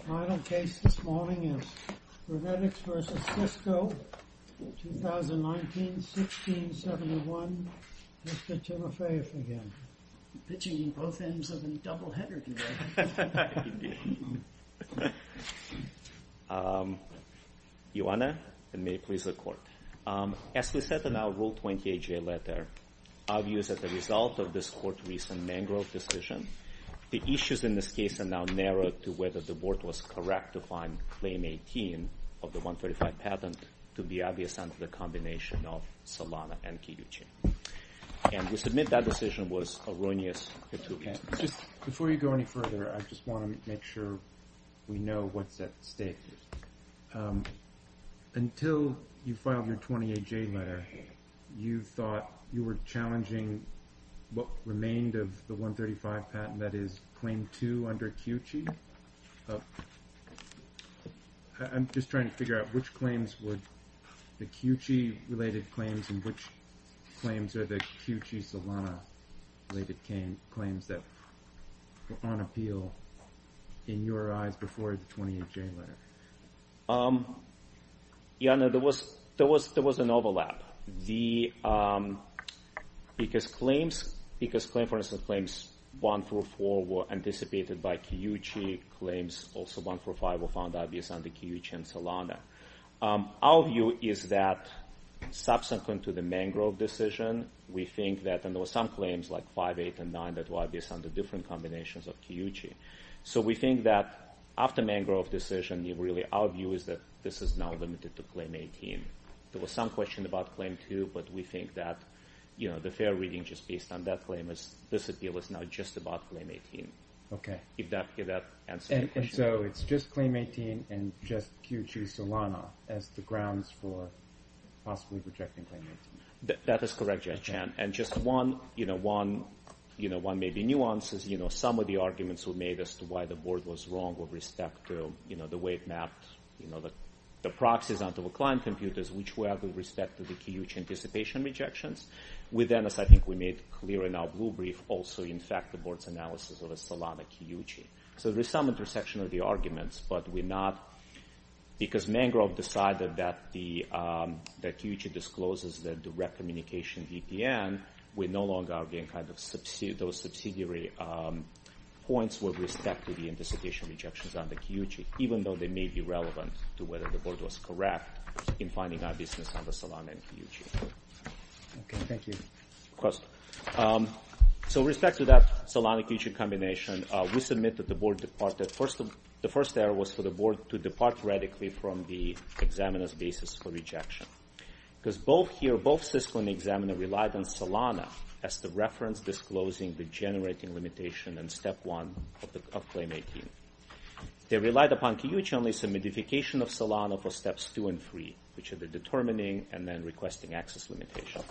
The final case this morning is RennetX v. Cisco, 2019-16-71, Mr. Timofeyev again. Pitching in both ends of the double-header today. Indeed. Ioanna, and may it please the Court. As we said in our Rule 28J letter, our view is that the result of this Court's recent mangrove decision, the issues in this case are now narrowed to whether the Board was correct to find Claim 18 of the 135 patent to be obvious under the combination of Solana and Kiyuchi. And to submit that decision was erroneous. Before you go any further, I just want to make sure we know what's at stake. Until you filed your 28J letter, you thought you were challenging what remained of the 135 patent, that is, Claim 2 under Kiyuchi. I'm just trying to figure out which claims were the Kiyuchi-related claims and which claims are the Kiyuchi-Solana-related claims that were on appeal in your eyes before the 28J letter. Ioanna, there was an overlap. Because, for instance, Claims 1 through 4 were anticipated by Kiyuchi. Claims also 1 through 5 were found obvious under Kiyuchi and Solana. Our view is that, subsequent to the mangrove decision, we think that there were some claims like 5, 8, and 9 that were obvious under different combinations of Kiyuchi. So we think that, after mangrove decision, our view is that this is now limited to Claim 18. There was some question about Claim 2, but we think that the fair reading, just based on that claim, is that this appeal is now just about Claim 18, if that answers your question. And so it's just Claim 18 and just Kiyuchi-Solana as the grounds for possibly rejecting Claim 18? That is correct, Jack Chan. And just one maybe nuance is some of the arguments we made as to why the board was wrong with respect to the way it mapped the proxies onto the client computers, which we have with respect to the Kiyuchi anticipation rejections. Within this, I think we made clear in our blue brief, also, in fact, the board's analysis of Solana-Kiyuchi. So there's some intersection of the arguments, but we're not... Because mangrove decided that Kiyuchi discloses the direct communication VPN, we no longer are getting those subsidiary points with respect to the anticipation rejections on the Kiyuchi, even though they may be relevant to whether the board was correct in finding obviousness on the Solana-Kiyuchi. Okay, thank you. Of course. So with respect to that Solana-Kiyuchi combination, we submit that the board departed... from the examiner's basis for rejection. Because both here, both Cisco and the examiner relied on Solana as the reference disclosing the generating limitation in Step 1 of Claim 18. They relied upon Kiyuchi only some modification of Solana for Steps 2 and 3, which are the determining and then requesting access limitation.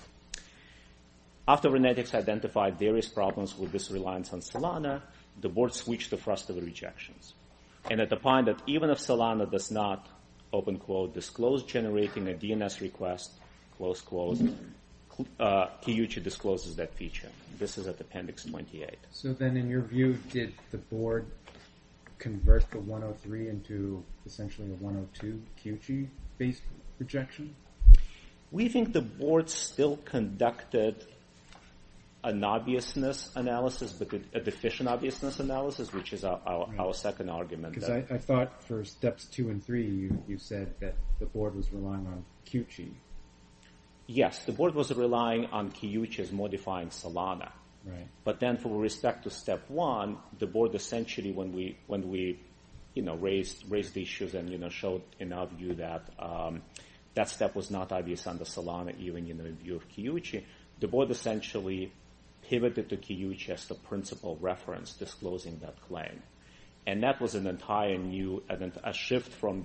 After Renetics identified various problems with this reliance on Solana, the board switched the thrust of the rejections. And at the point that even if Solana does not, open quote, disclose generating a DNS request, close quote, Kiyuchi discloses that feature. This is at Appendix 28. So then in your view, did the board convert the 103 into essentially a 102 Kiyuchi-based rejection? We think the board still conducted an obviousness analysis, but a deficient obviousness analysis, which is our second argument. Because I thought for Steps 2 and 3, you said that the board was relying on Kiyuchi. Yes, the board was relying on Kiyuchi as modifying Solana. But then with respect to Step 1, the board essentially, when we raised issues and showed in our view that that step was not obvious under Solana, even in the view of Kiyuchi, the board essentially pivoted to Kiyuchi as the principal reference disclosing that claim. And that was an entire new shift from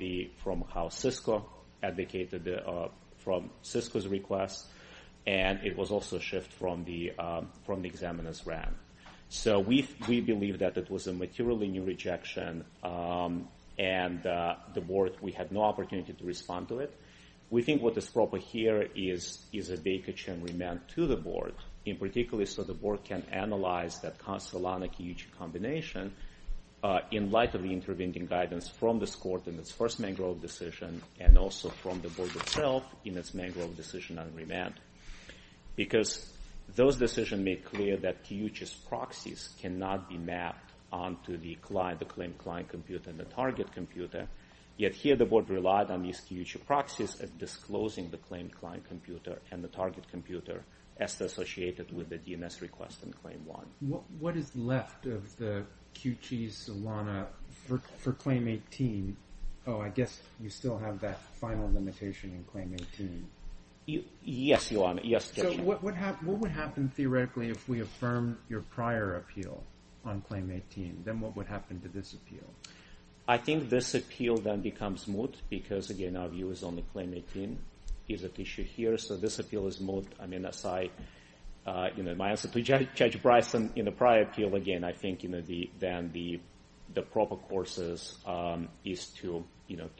how Cisco advocated from Cisco's request, and it was also a shift from the examiner's ramp. So we believe that it was a materially new rejection, and the board, we had no opportunity to respond to it. We think what is proper here is a Baker-Chen remand to the board, in particular so the board can analyze that Solana-Kiyuchi combination in light of the intervening guidance from this court in its first mangrove decision and also from the board itself in its mangrove decision on remand. Because those decisions make clear that Kiyuchi's proxies cannot be mapped onto the claim client computer and the target computer. Yet here the board relied on these Kiyuchi proxies as disclosing the claim client computer and the target computer as associated with the DNS request in Claim 1. What is left of the Kiyuchi-Solana for Claim 18? Oh, I guess you still have that final limitation in Claim 18. Yes, Your Honor. So what would happen theoretically if we affirm your prior appeal on Claim 18? Then what would happen to this appeal? I think this appeal then becomes moot because, again, our view is only Claim 18 is at issue here. So this appeal is moot. My answer to Judge Bryson in the prior appeal, again, I think then the proper course is to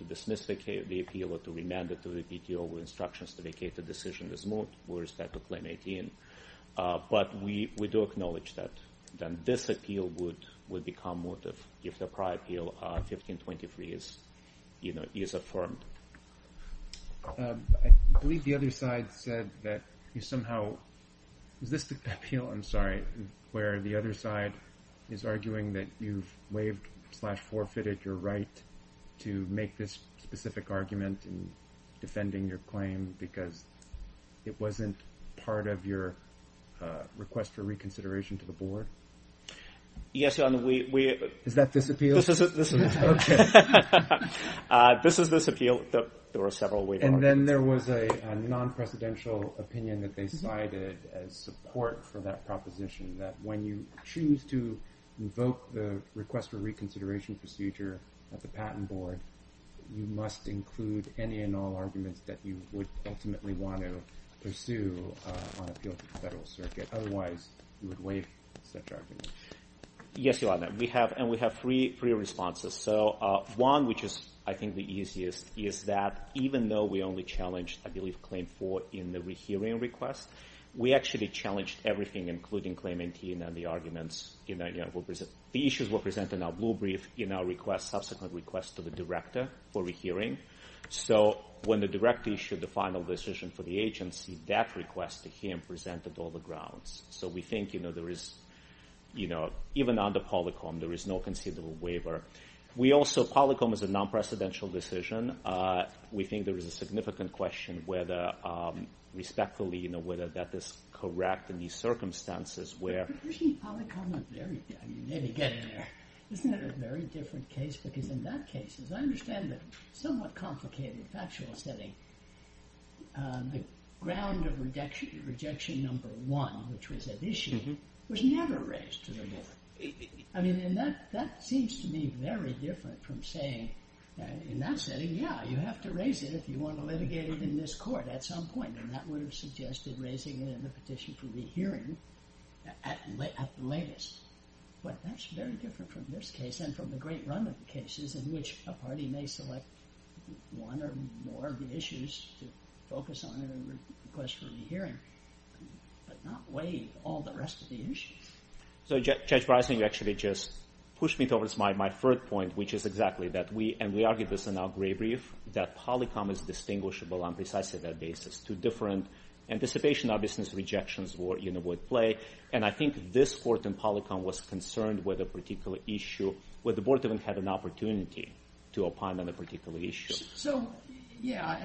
dismiss the appeal or to remand it to the PTO with instructions to vacate the decision is moot with respect to Claim 18. But we do acknowledge that this appeal would become moot if the prior appeal on 1523 is, you know, is affirmed. I believe the other side said that you somehow – is this the appeal? I'm sorry, where the other side is arguing that you've waived slash forfeited your right to make this specific argument in defending your claim because it wasn't part of your request for reconsideration to the board? Yes, Your Honor, we – Is that this appeal? This is this appeal. Okay. This is this appeal. There were several waived arguments. And then there was a non-presidential opinion that they cited as support for that proposition that when you choose to invoke the request for reconsideration procedure at the Patent Board, you must include any and all arguments that you would ultimately want to pursue on appeal to the Federal Circuit. Otherwise, you would waive such arguments. Yes, Your Honor. We have – and we have three responses. So one, which is I think the easiest, is that even though we only challenged, I believe, Claim 4 in the rehearing request, we actually challenged everything including Claim 18 and the arguments. The issues were presented in our blue brief in our request, subsequent request to the director for rehearing. So when the director issued the final decision for the agency, that request to him presented all the grounds. So we think, you know, there is – even under Polycom, there is no considerable waiver. We also – Polycom is a non-presidential decision. We think there is a significant question whether respectfully, you know, whether that is correct in these circumstances where – But personally, Polycom is very – maybe get in there. Isn't it a very different case? Because in that case, as I understand it, somewhat complicated, factual setting, the ground of rejection number one, which was at issue, was never raised to the court. I mean, and that seems to me very different from saying in that setting, yeah, you have to raise it if you want to litigate it in this court at some point. And that would have suggested raising it in the petition for rehearing at the latest. But that's very different from this case and from the great run of the cases in which a party may select one or more of the issues to focus on and request for rehearing, but not weigh all the rest of the issues. So, Judge Bryson, you actually just pushed me towards my third point, which is exactly that we – and we argued this in our gray brief – that Polycom is distinguishable on precisely that basis. Two different anticipation, obviousness, rejections would play. And I think this court in Polycom was concerned with a particular issue where the board didn't have an opportunity to opine on a particular issue. So, yeah,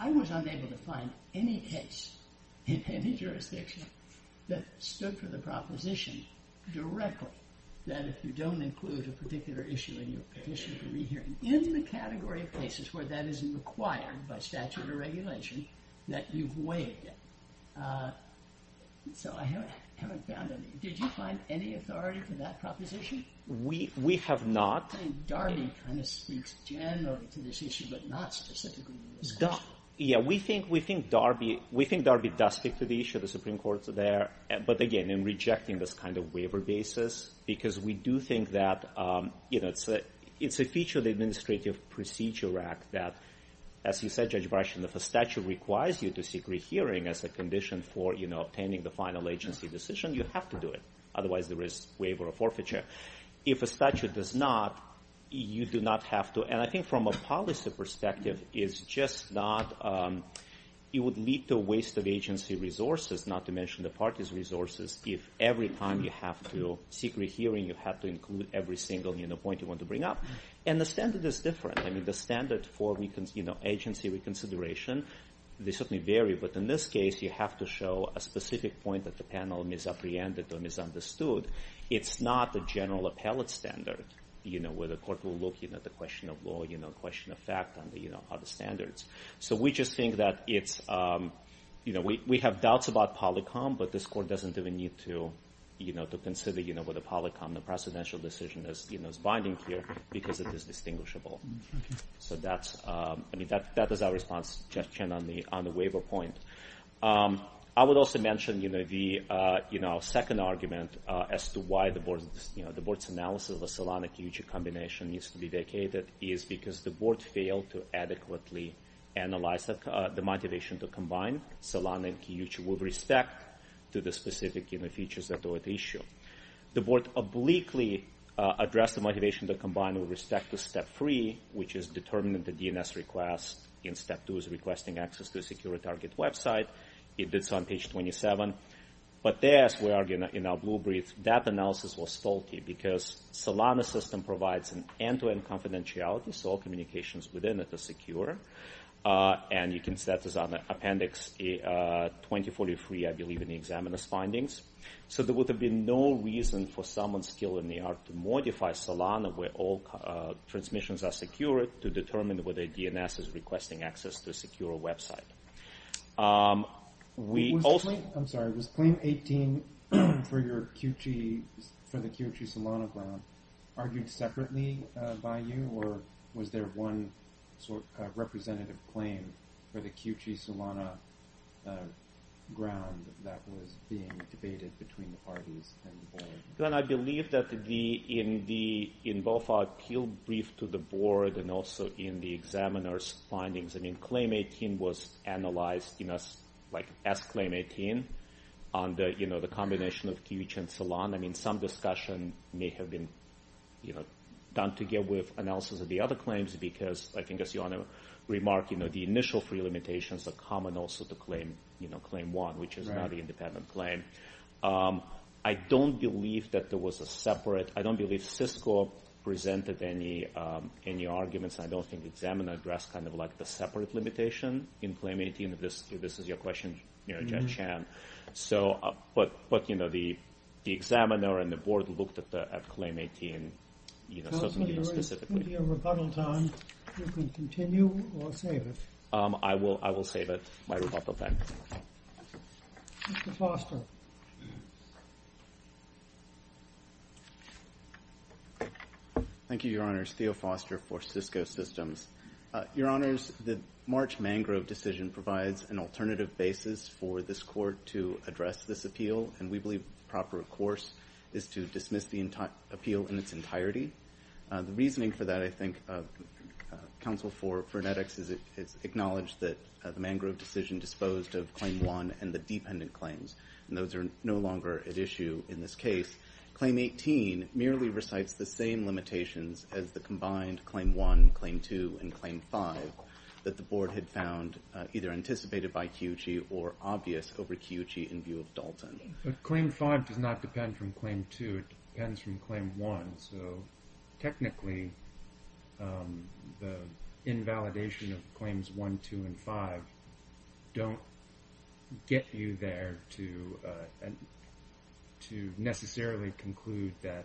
I was unable to find any case in any jurisdiction that stood for the proposition directly that if you don't include a particular issue in your petition for rehearing in the category of cases where that isn't required by statute or regulation, that you've weighed it. So I haven't found any. Did you find any authority for that proposition? We have not. Darby kind of speaks generally to this issue, but not specifically to this issue. Yeah, we think Darby does speak to the issue of the Supreme Court there. But again, in rejecting this kind of waiver basis, because we do think that it's a feature of the Administrative Procedure Act that, as you said, Judge Bryson, if a statute requires you to seek rehearing as a condition for obtaining the final agency decision, you have to do it. Otherwise, there is waiver of forfeiture. If a statute does not, you do not have to. And I think from a policy perspective, it would lead to a waste of agency resources, not to mention the parties' resources, if every time you have to seek rehearing, you have to include every single point you want to bring up. And the standard is different. I mean, the standard for agency reconsideration, they certainly vary. But in this case, you have to show a specific point that the panel misapprehended or misunderstood. It's not the general appellate standard where the court will look at the question of law, the question of fact, and the other standards. So we just think that it's – we have doubts about polycom, but this court doesn't even need to consider whether polycom, the precedential decision is binding here because it is distinguishable. So that's – I mean, that is our response on the waiver point. I would also mention the second argument as to why the board's analysis of the Solana-Kiyuchi combination needs to be vacated is because the board failed to adequately analyze the motivation to combine Solana and Kiyuchi with respect to the specific features of the issue. The board obliquely addressed the motivation to combine with respect to Step 3, which is determining the DNS request in Step 2 as requesting access to a secure target website. It did so on page 27. But there, as we argue in our blue brief, that analysis was stalky because Solana's system provides an end-to-end confidentiality, so all communications within it are secure. And you can see that is on Appendix 2043, I believe, in the examiner's findings. So there would have been no reason for someone still in the ARC to modify Solana where all transmissions are secure to determine whether DNS is requesting access to a secure website. Was Claim 18 for the Kiyuchi-Solana ground argued separately by you, or was there one representative claim for the Kiyuchi-Solana ground that was being debated between the parties? Glenn, I believe that in both our appeal brief to the board and also in the examiner's findings, Claim 18 was analyzed as Claim 18 on the combination of Kiyuchi and Solana. Some discussion may have been done to get with analysis of the other claims because, I guess you want to remark, the initial three limitations are common also to Claim 1, which is not an independent claim. I don't believe that there was a separate. I don't believe Cisco presented any arguments. I don't think the examiner addressed the separate limitation in Claim 18. This is your question, Judge Chan. But the examiner and the board looked at Claim 18 specifically. Counselor, there is plenty of rebuttal time. You can continue or save it. I will save it, my rebuttal time. Mr. Foster. Thank you, Your Honors. Theo Foster for Cisco Systems. Your Honors, the March Mangrove decision provides an alternative basis for this court to address this appeal, and we believe proper course is to dismiss the appeal in its entirety. The reasoning for that, I think, Counsel for EdX, is it acknowledged that the Mangrove decision disposed of Claim 1 and the dependent claims. Those are no longer at issue in this case. Claim 18 merely recites the same limitations as the combined Claim 1, Claim 2, and Claim 5 that the board had found either anticipated by Kiyuchi or obvious over Kiyuchi in view of Dalton. But Claim 5 does not depend from Claim 2. It depends from Claim 1. So technically, the invalidation of Claims 1, 2, and 5 don't get you there to necessarily conclude that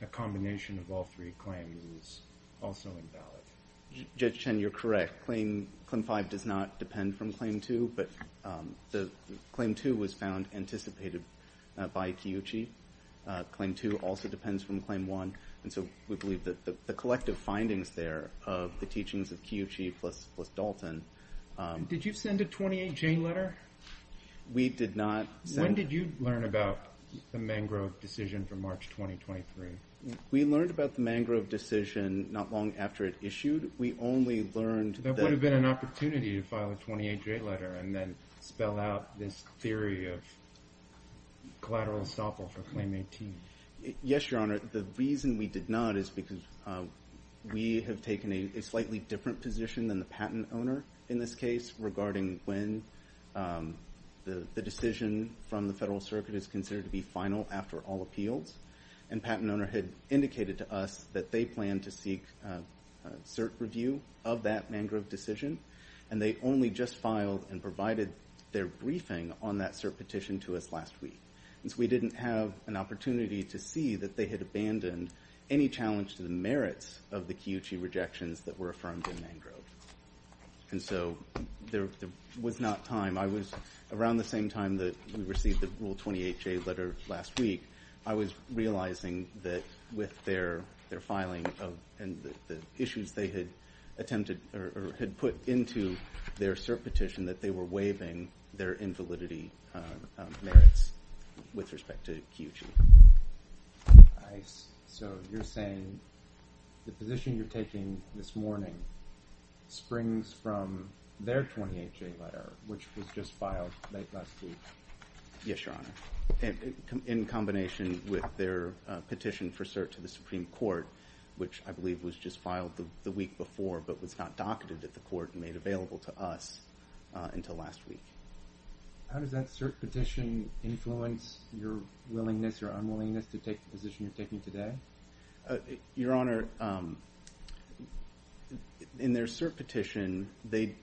a combination of all three claims is also invalid. Judge Chen, you're correct. Claim 5 does not depend from Claim 2, but Claim 2 was found anticipated by Kiyuchi. Claim 2 also depends from Claim 1. And so we believe that the collective findings there of the teachings of Kiyuchi plus Dalton— Did you send a 28-J letter? We did not send— When did you learn about the Mangrove decision from March 2023? We learned about the Mangrove decision not long after it issued. We only learned that— Yes, Your Honor. The reason we did not is because we have taken a slightly different position than the patent owner in this case regarding when the decision from the Federal Circuit is considered to be final after all appeals. And the patent owner had indicated to us that they planned to seek cert review of that Mangrove decision, and they only just filed and provided their briefing on that cert petition to us last week. And so we didn't have an opportunity to see that they had abandoned any challenge to the merits of the Kiyuchi rejections that were affirmed in Mangrove. And so there was not time. I was—around the same time that we received the Rule 28-J letter last week, I was realizing that with their filing and the issues they had attempted or had put into their cert petition that they were waiving their invalidity merits with respect to Kiyuchi. So you're saying the position you're taking this morning springs from their Rule 28-J letter, which was just filed late last week? Yes, Your Honor. In combination with their petition for cert to the Supreme Court, which I believe was just filed the week before but was not docketed at the court and made available to us until last week. How does that cert petition influence your willingness or unwillingness to take the position you're taking today? Your Honor, in their cert petition, they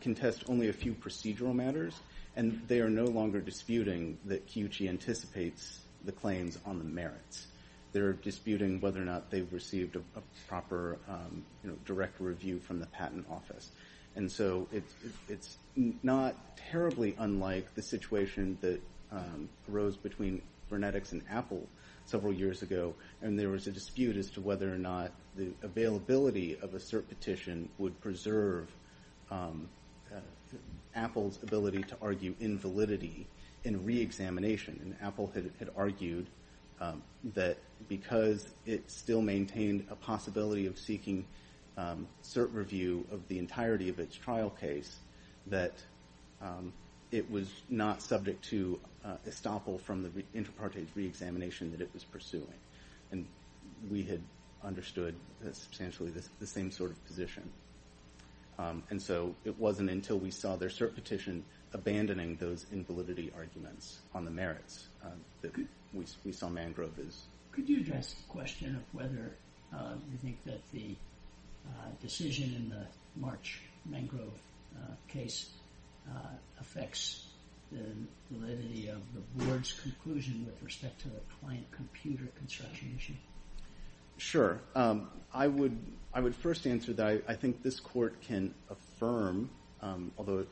contest only a few procedural matters, and they are no longer disputing that Kiyuchi anticipates the claims on the merits. They're disputing whether or not they received a proper direct review from the Patent Office. And so it's not terribly unlike the situation that arose between Vernetics and Apple several years ago, and there was a dispute as to whether or not the availability of a cert petition would preserve Apple's ability to argue invalidity in reexamination. And Apple had argued that because it still maintained a possibility of seeking cert review of the entirety of its trial case, that it was not subject to estoppel from the intrapartite reexamination that it was pursuing. And we had understood substantially the same sort of position. And so it wasn't until we saw their cert petition abandoning those invalidity arguments on the merits that we saw Mangrove's. Could you address the question of whether you think that the decision in the March Mangrove case affects the validity of the Board's conclusion with respect to the client computer construction issue? Sure. I would first answer that I think this Court can affirm, although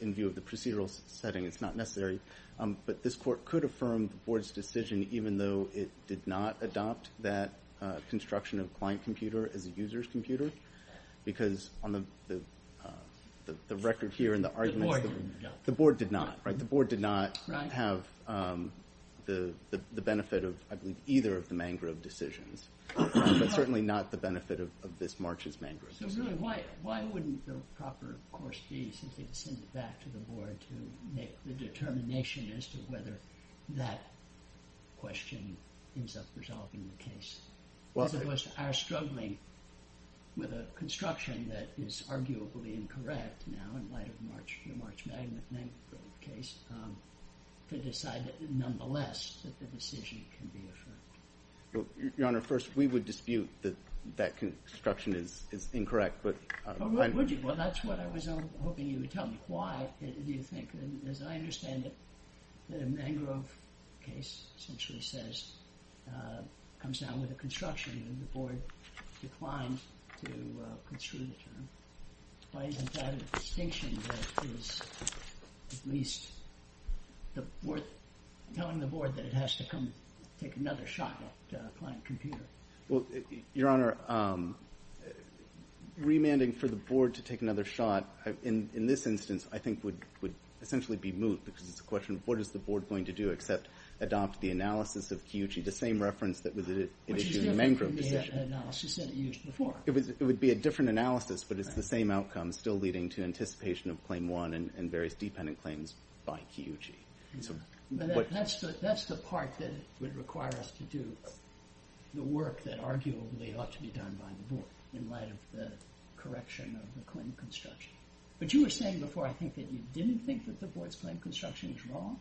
in view of the procedural setting it's not necessary, but this Court could affirm the Board's decision even though it did not adopt that construction of client computer as a user's computer. Because on the record here and the arguments... The Board did not. Right, the Board did not have the benefit of either of the Mangrove decisions, but certainly not the benefit of this March's Mangrove decision. So really, why wouldn't the proper course be since they'd send it back to the Board to make the determination as to whether that question ends up resolving the case? As opposed to our struggling with a construction that is arguably incorrect now in light of the March Mangrove case to decide that nonetheless that the decision can be affirmed. Your Honor, first, we would dispute that that construction is incorrect, but... Well, that's what I was hoping you would tell me. Why do you think, as I understand it, that a Mangrove case essentially comes down with a construction and the Board declines to construe the term? Why isn't that a distinction that is at least telling the Board that it has to come take another shot at client computer? Well, Your Honor, remanding for the Board to take another shot in this instance I think would essentially be moot because it's a question of what is the Board going to do except adopt the analysis of Kiyuchi, the same reference that was issued in the Mangrove decision. Which is a different analysis than it used before. It would be a different analysis, but it's the same outcome still leading to anticipation of Claim 1 and various dependent claims by Kiyuchi. That's the part that would require us to do the work that arguably ought to be done by the Board in light of the correction of the claim construction. But you were saying before, I think, that you didn't think that the Board's claim construction is wrong?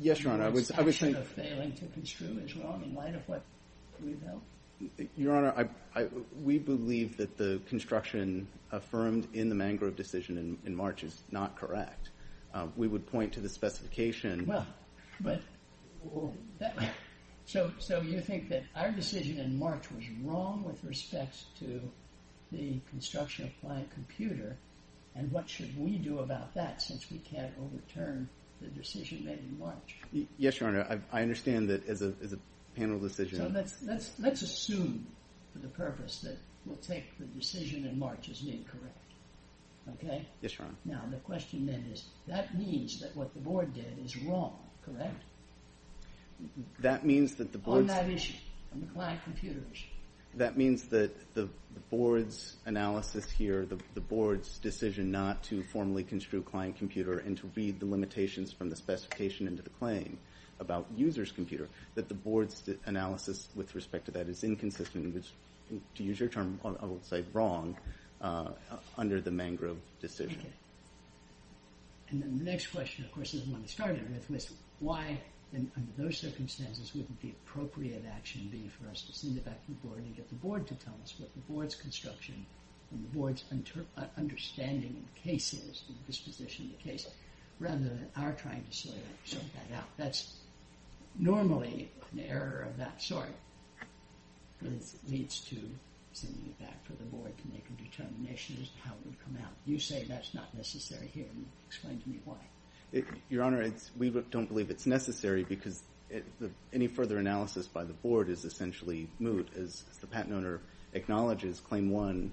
Yes, Your Honor, I was saying... Your perception of failing to construe is wrong in light of what we've held? Your Honor, we believe that the construction affirmed in the Mangrove decision in March is not correct. We would point to the specification... Well, so you think that our decision in March was wrong with respects to the construction of planned computer and what should we do about that since we can't overturn the decision made in March? Yes, Your Honor, I understand that as a panel decision... So let's assume for the purpose that we'll take the decision in March as being correct. Okay? Yes, Your Honor. Now, the question then is, that means that what the Board did is wrong, correct? That means that the Board's... On that issue, on the planned computer issue. That means that the Board's analysis here, the Board's decision not to formally construe planned computer and to read the limitations from the specification into the claim about user's computer, that the Board's analysis with respect to that is inconsistent, which, to use your term, I will say wrong, under the Mangrove decision. Okay. And then the next question, of course, is the one we started with, which is why, under those circumstances, wouldn't the appropriate action be for us to send it back to the Board and get the Board to tell us what the Board's construction and the Board's understanding of the case is, the disposition of the case, rather than our trying to sort that out. That's normally an error of that sort, but it leads to sending it back to the Board to make a determination as to how it would come out. You say that's not necessary here. Explain to me why. Your Honor, we don't believe it's necessary because any further analysis by the Board is essentially moot. As the patent owner acknowledges, Claim 1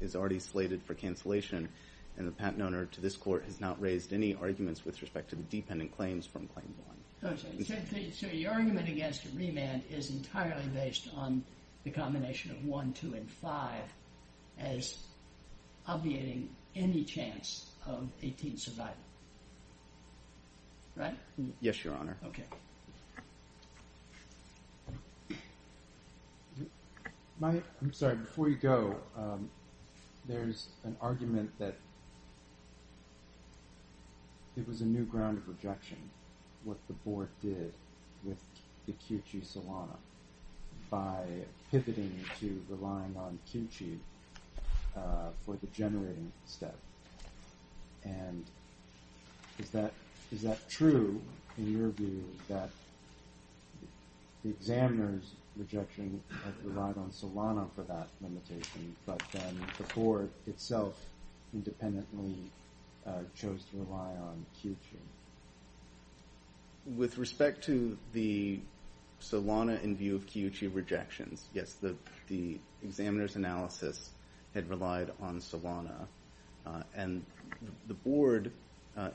is already slated for cancellation, and the patent owner to this Court has not raised any arguments with respect to the dependent claims from Claim 1. So your argument against a remand is entirely based on the combination of 1, 2, and 5 as obviating any chance of a teen survival, right? Yes, Your Honor. Okay. I'm sorry. Before you go, there's an argument that it was a new ground of rejection, what the Board did with the Kiu-Chi Solana by pivoting to relying on Kiu-Chi for the generating step. And is that true in your view that the examiner's rejection relied on Solana for that limitation, but then the Board itself independently chose to rely on Kiu-Chi? With respect to the Solana in view of Kiu-Chi rejections, yes, the examiner's analysis had relied on Solana, and the Board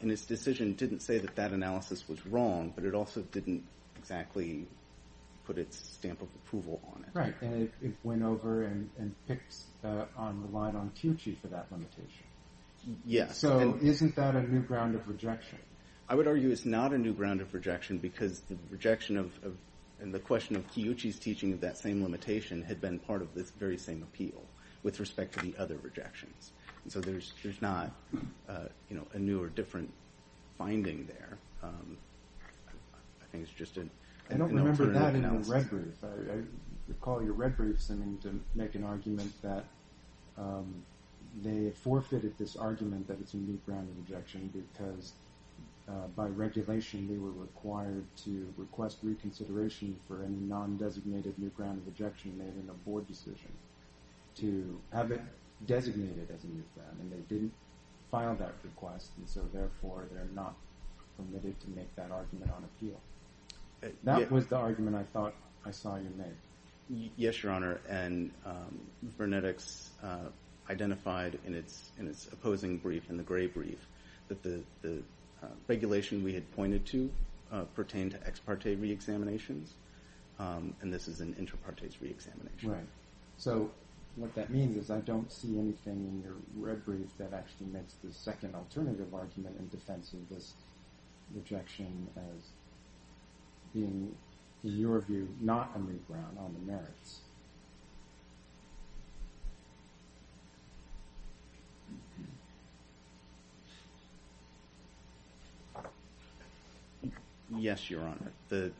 in its decision didn't say that that analysis was wrong, but it also didn't exactly put its stamp of approval on it. Right. And it went over and picked on, relied on Kiu-Chi for that limitation. Yes. So isn't that a new ground of rejection? I would argue it's not a new ground of rejection because the rejection of, and the question of Kiu-Chi's teaching of that same limitation had been part of this very same appeal with respect to the other rejections. And so there's not, you know, a new or different finding there. I think it's just an alternative analysis. I don't remember that in the Red Group. I recall your Red Group sending to make an argument that they forfeited this argument that it's a new ground of rejection because, by regulation, they were required to request reconsideration for a non-designated new ground of rejection made in the Board decision to have it designated as a new ground, and they didn't file that request, and so therefore they're not permitted to make that argument on appeal. That was the argument I thought I saw you make. Yes, Your Honor. And Burnettix identified in its opposing brief, in the gray brief, that the regulation we had pointed to pertained to ex parte reexaminations, and this is an inter partes reexamination. Right. So what that means is I don't see anything in your red brief that actually makes the second alternative argument in defense of this rejection as being, in your view, not a new ground on the merits. Yes, Your Honor. The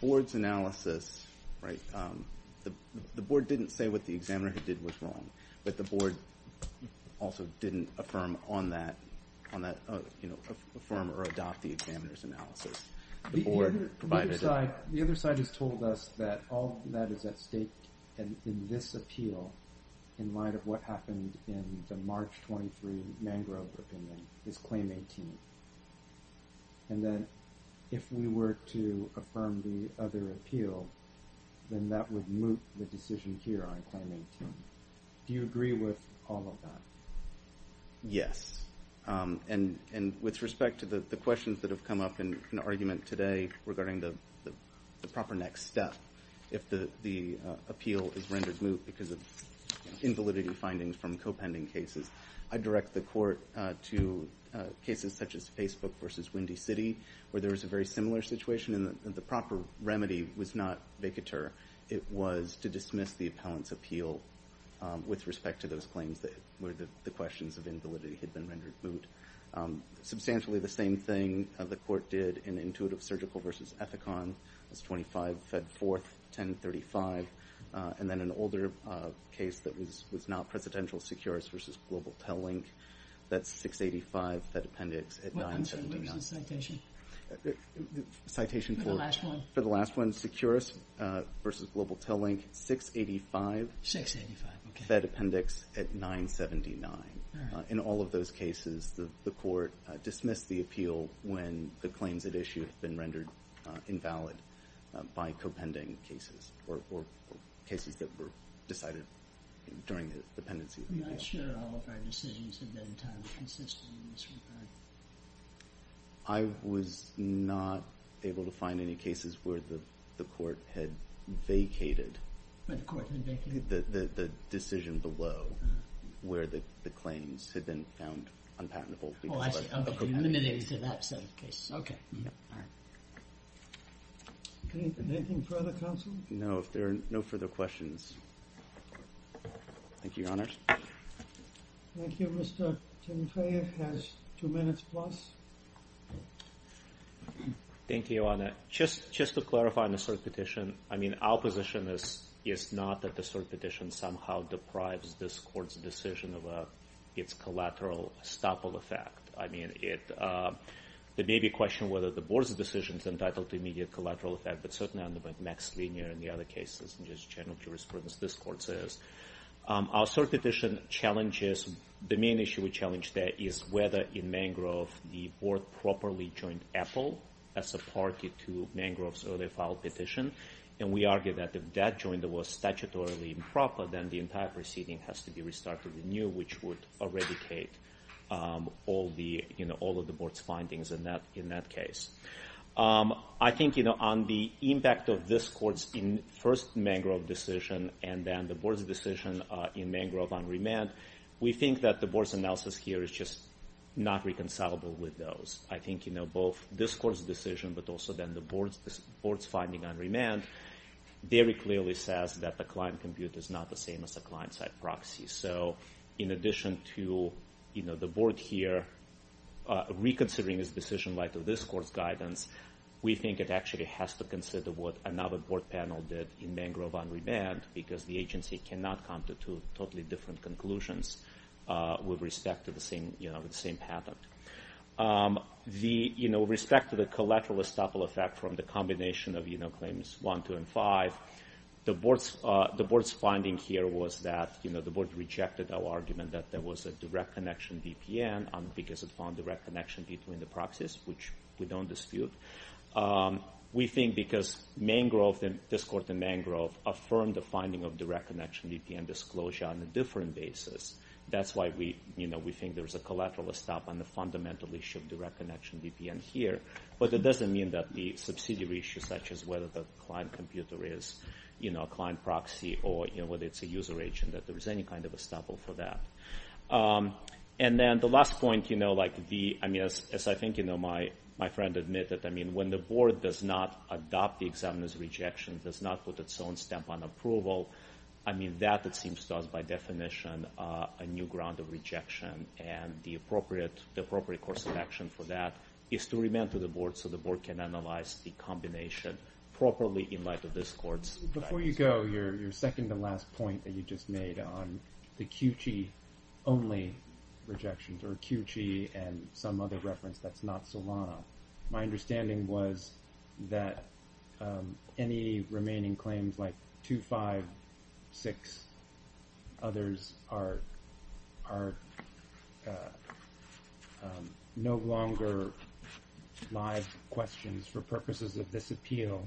Board's analysis, right, the Board didn't say what the examiner did was wrong, but the Board also didn't affirm or adopt the examiner's analysis. The other side has told us that all that is at stake in this appeal in light of what happened in the March 23 Mangrove opinion is Claim 18, and that if we were to affirm the other appeal, then that would moot the decision here on Claim 18. Do you agree with all of that? Yes. And with respect to the questions that have come up in argument today regarding the proper next step, if the appeal is rendered moot because of invalidity findings from co-pending cases, I direct the Court to cases such as Facebook versus Windy City, where there was a very similar situation and the proper remedy was not vacatur. It was to dismiss the appellant's appeal with respect to those claims where the questions of invalidity had been rendered moot. Substantially the same thing the Court did in Intuitive Surgical versus Ethicon. That's 25 Fed 4th, 1035. And then an older case that was not Presidential Secures versus Global Tellink. That's 685 Fed Appendix. What was the citation? Citation for the last one. Secures versus Global Tellink, 685 Fed Appendix at 979. In all of those cases, the Court dismissed the appeal when the claims at issue had been rendered invalid by co-pending cases or cases that were decided during the dependency appeal. I'm not sure all of our decisions have been timed consistently in this regard. I was not able to find any cases where the Court had vacated. When the Court had vacated? The decision below where the claims had been found unpatentable. Oh, I see. I'm limited to that set of cases. Okay. Anything further, counsel? No, if there are no further questions. Thank you, Your Honor. Thank you, Mr. Tinfayev has two minutes plus. Thank you, Your Honor. Just to clarify on the cert petition, I mean, our position is not that the cert petition somehow deprives this Court's decision of its collateral estoppel effect. I mean, it may be a question whether the Board's decision is entitled to immediate collateral effect, but certainly on the next linear in the other cases, and just general jurisprudence this Court says. Our cert petition challenges, the main issue we challenge there is whether in Mangrove the Board properly joined Apple as a party to Mangrove's earlier filed petition. And we argue that if that joint was statutorily improper, then the entire proceeding has to be restarted anew, which would eradicate all of the Board's findings in that case. I think, you know, on the impact of this Court's first Mangrove decision, and then the Board's decision in Mangrove on remand, we think that the Board's analysis here is just not reconcilable with those. I think, you know, both this Court's decision, but also then the Board's finding on remand, very clearly says that the client compute is not the same as a client-side proxy. So in addition to, you know, the Board here reconsidering this decision like this Court's guidance, we think it actually has to consider what another Board panel did in Mangrove on remand, because the agency cannot come to totally different conclusions with respect to the same patent. With respect to the collateral estoppel effect from the combination of claims 1, 2, and 5, the Board's finding here was that, you know, the Board rejected our argument that there was a direct connection VPN because it found direct connection between the proxies, which we don't dispute. We think because this Court in Mangrove affirmed the finding of direct connection VPN disclosure on a different basis, that's why we think there's a collateral estoppel on the fundamental issue of direct connection VPN here. But it doesn't mean that the subsidiary issue, such as whether the client computer is, you know, a client proxy, or, you know, whether it's a user agent, that there's any kind of estoppel for that. And then the last point, you know, like the, I mean, as I think, you know, my friend admitted, I mean, when the Board does not adopt the examiner's rejection, does not put its own stamp on approval, I mean, that, it seems to us, by definition, a new ground of rejection, and the appropriate course of action for that is to remand to the Board, so the Board can analyze the combination properly in light of this Court's guidance. Before you go, your second to last point that you just made on the QG only rejections, or QG and some other reference that's not Solano, my understanding was that any remaining claims like 2-5-6, others are no longer live questions for purposes of this appeal,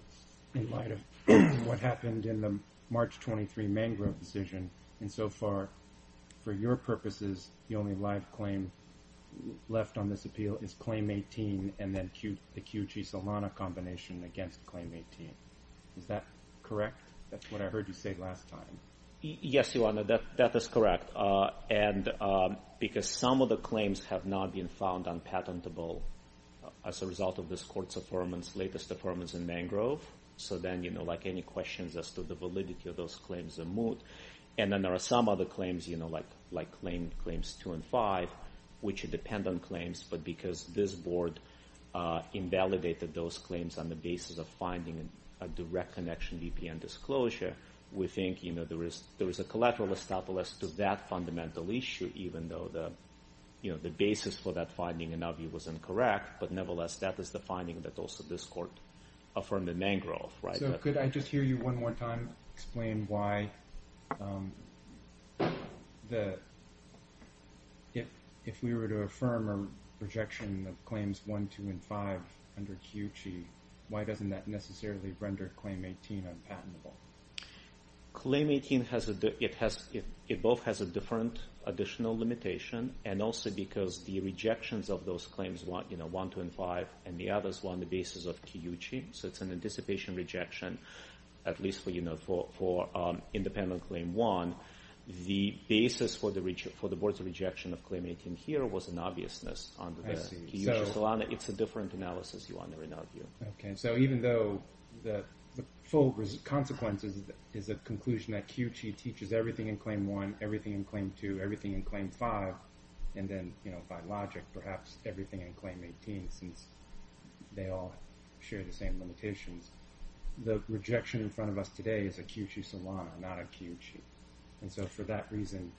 in light of what happened in the March 23 mangrove decision. And so far, for your purposes, the only live claim left on this appeal is Claim 18, and then the QG-Solano combination against Claim 18. Is that correct? That's what I heard you say last time. Yes, Your Honor, that is correct. And because some of the claims have not been found unpatentable as a result of this Court's latest affirmance in mangrove, so then any questions as to the validity of those claims are moot. And then there are some other claims, like Claims 2 and 5, which depend on claims, but because this Board invalidated those claims on the basis of finding a direct connection VPN disclosure, we think there is a collateral estoppel as to that fundamental issue, even though the basis for that finding in our view was incorrect, but nevertheless that is the finding that also this Court affirmed in mangrove. So could I just hear you one more time explain why, if we were to affirm a rejection of Claims 1, 2, and 5 under QG, why doesn't that necessarily render Claim 18 unpatentable? Claim 18, it both has a different additional limitation, and also because the rejections of those claims, 1, 2, and 5, and the others were on the basis of QG, so it's an anticipation rejection, at least for independent Claim 1. The basis for the Board's rejection of Claim 18 here was an obviousness. It's a different analysis, Your Honor, in our view. So even though the full consequence is a conclusion that QG teaches everything in Claim 1, everything in Claim 2, everything in Claim 5, and then by logic perhaps everything in Claim 18, since they all share the same limitations, the rejection in front of us today is a QG solana, not a QG. And so for that reason,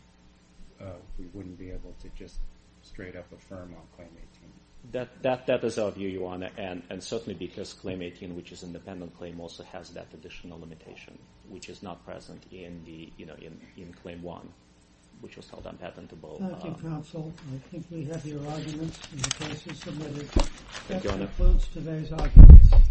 we wouldn't be able to just straight up affirm on Claim 18. That is our view, Your Honor, and certainly because Claim 18, which is an independent claim, also has that additional limitation, which is not present in Claim 1, which was held unpatentable. Thank you, counsel. I think we have your arguments in the cases submitted. Thank you, Your Honor. That concludes today's arguments.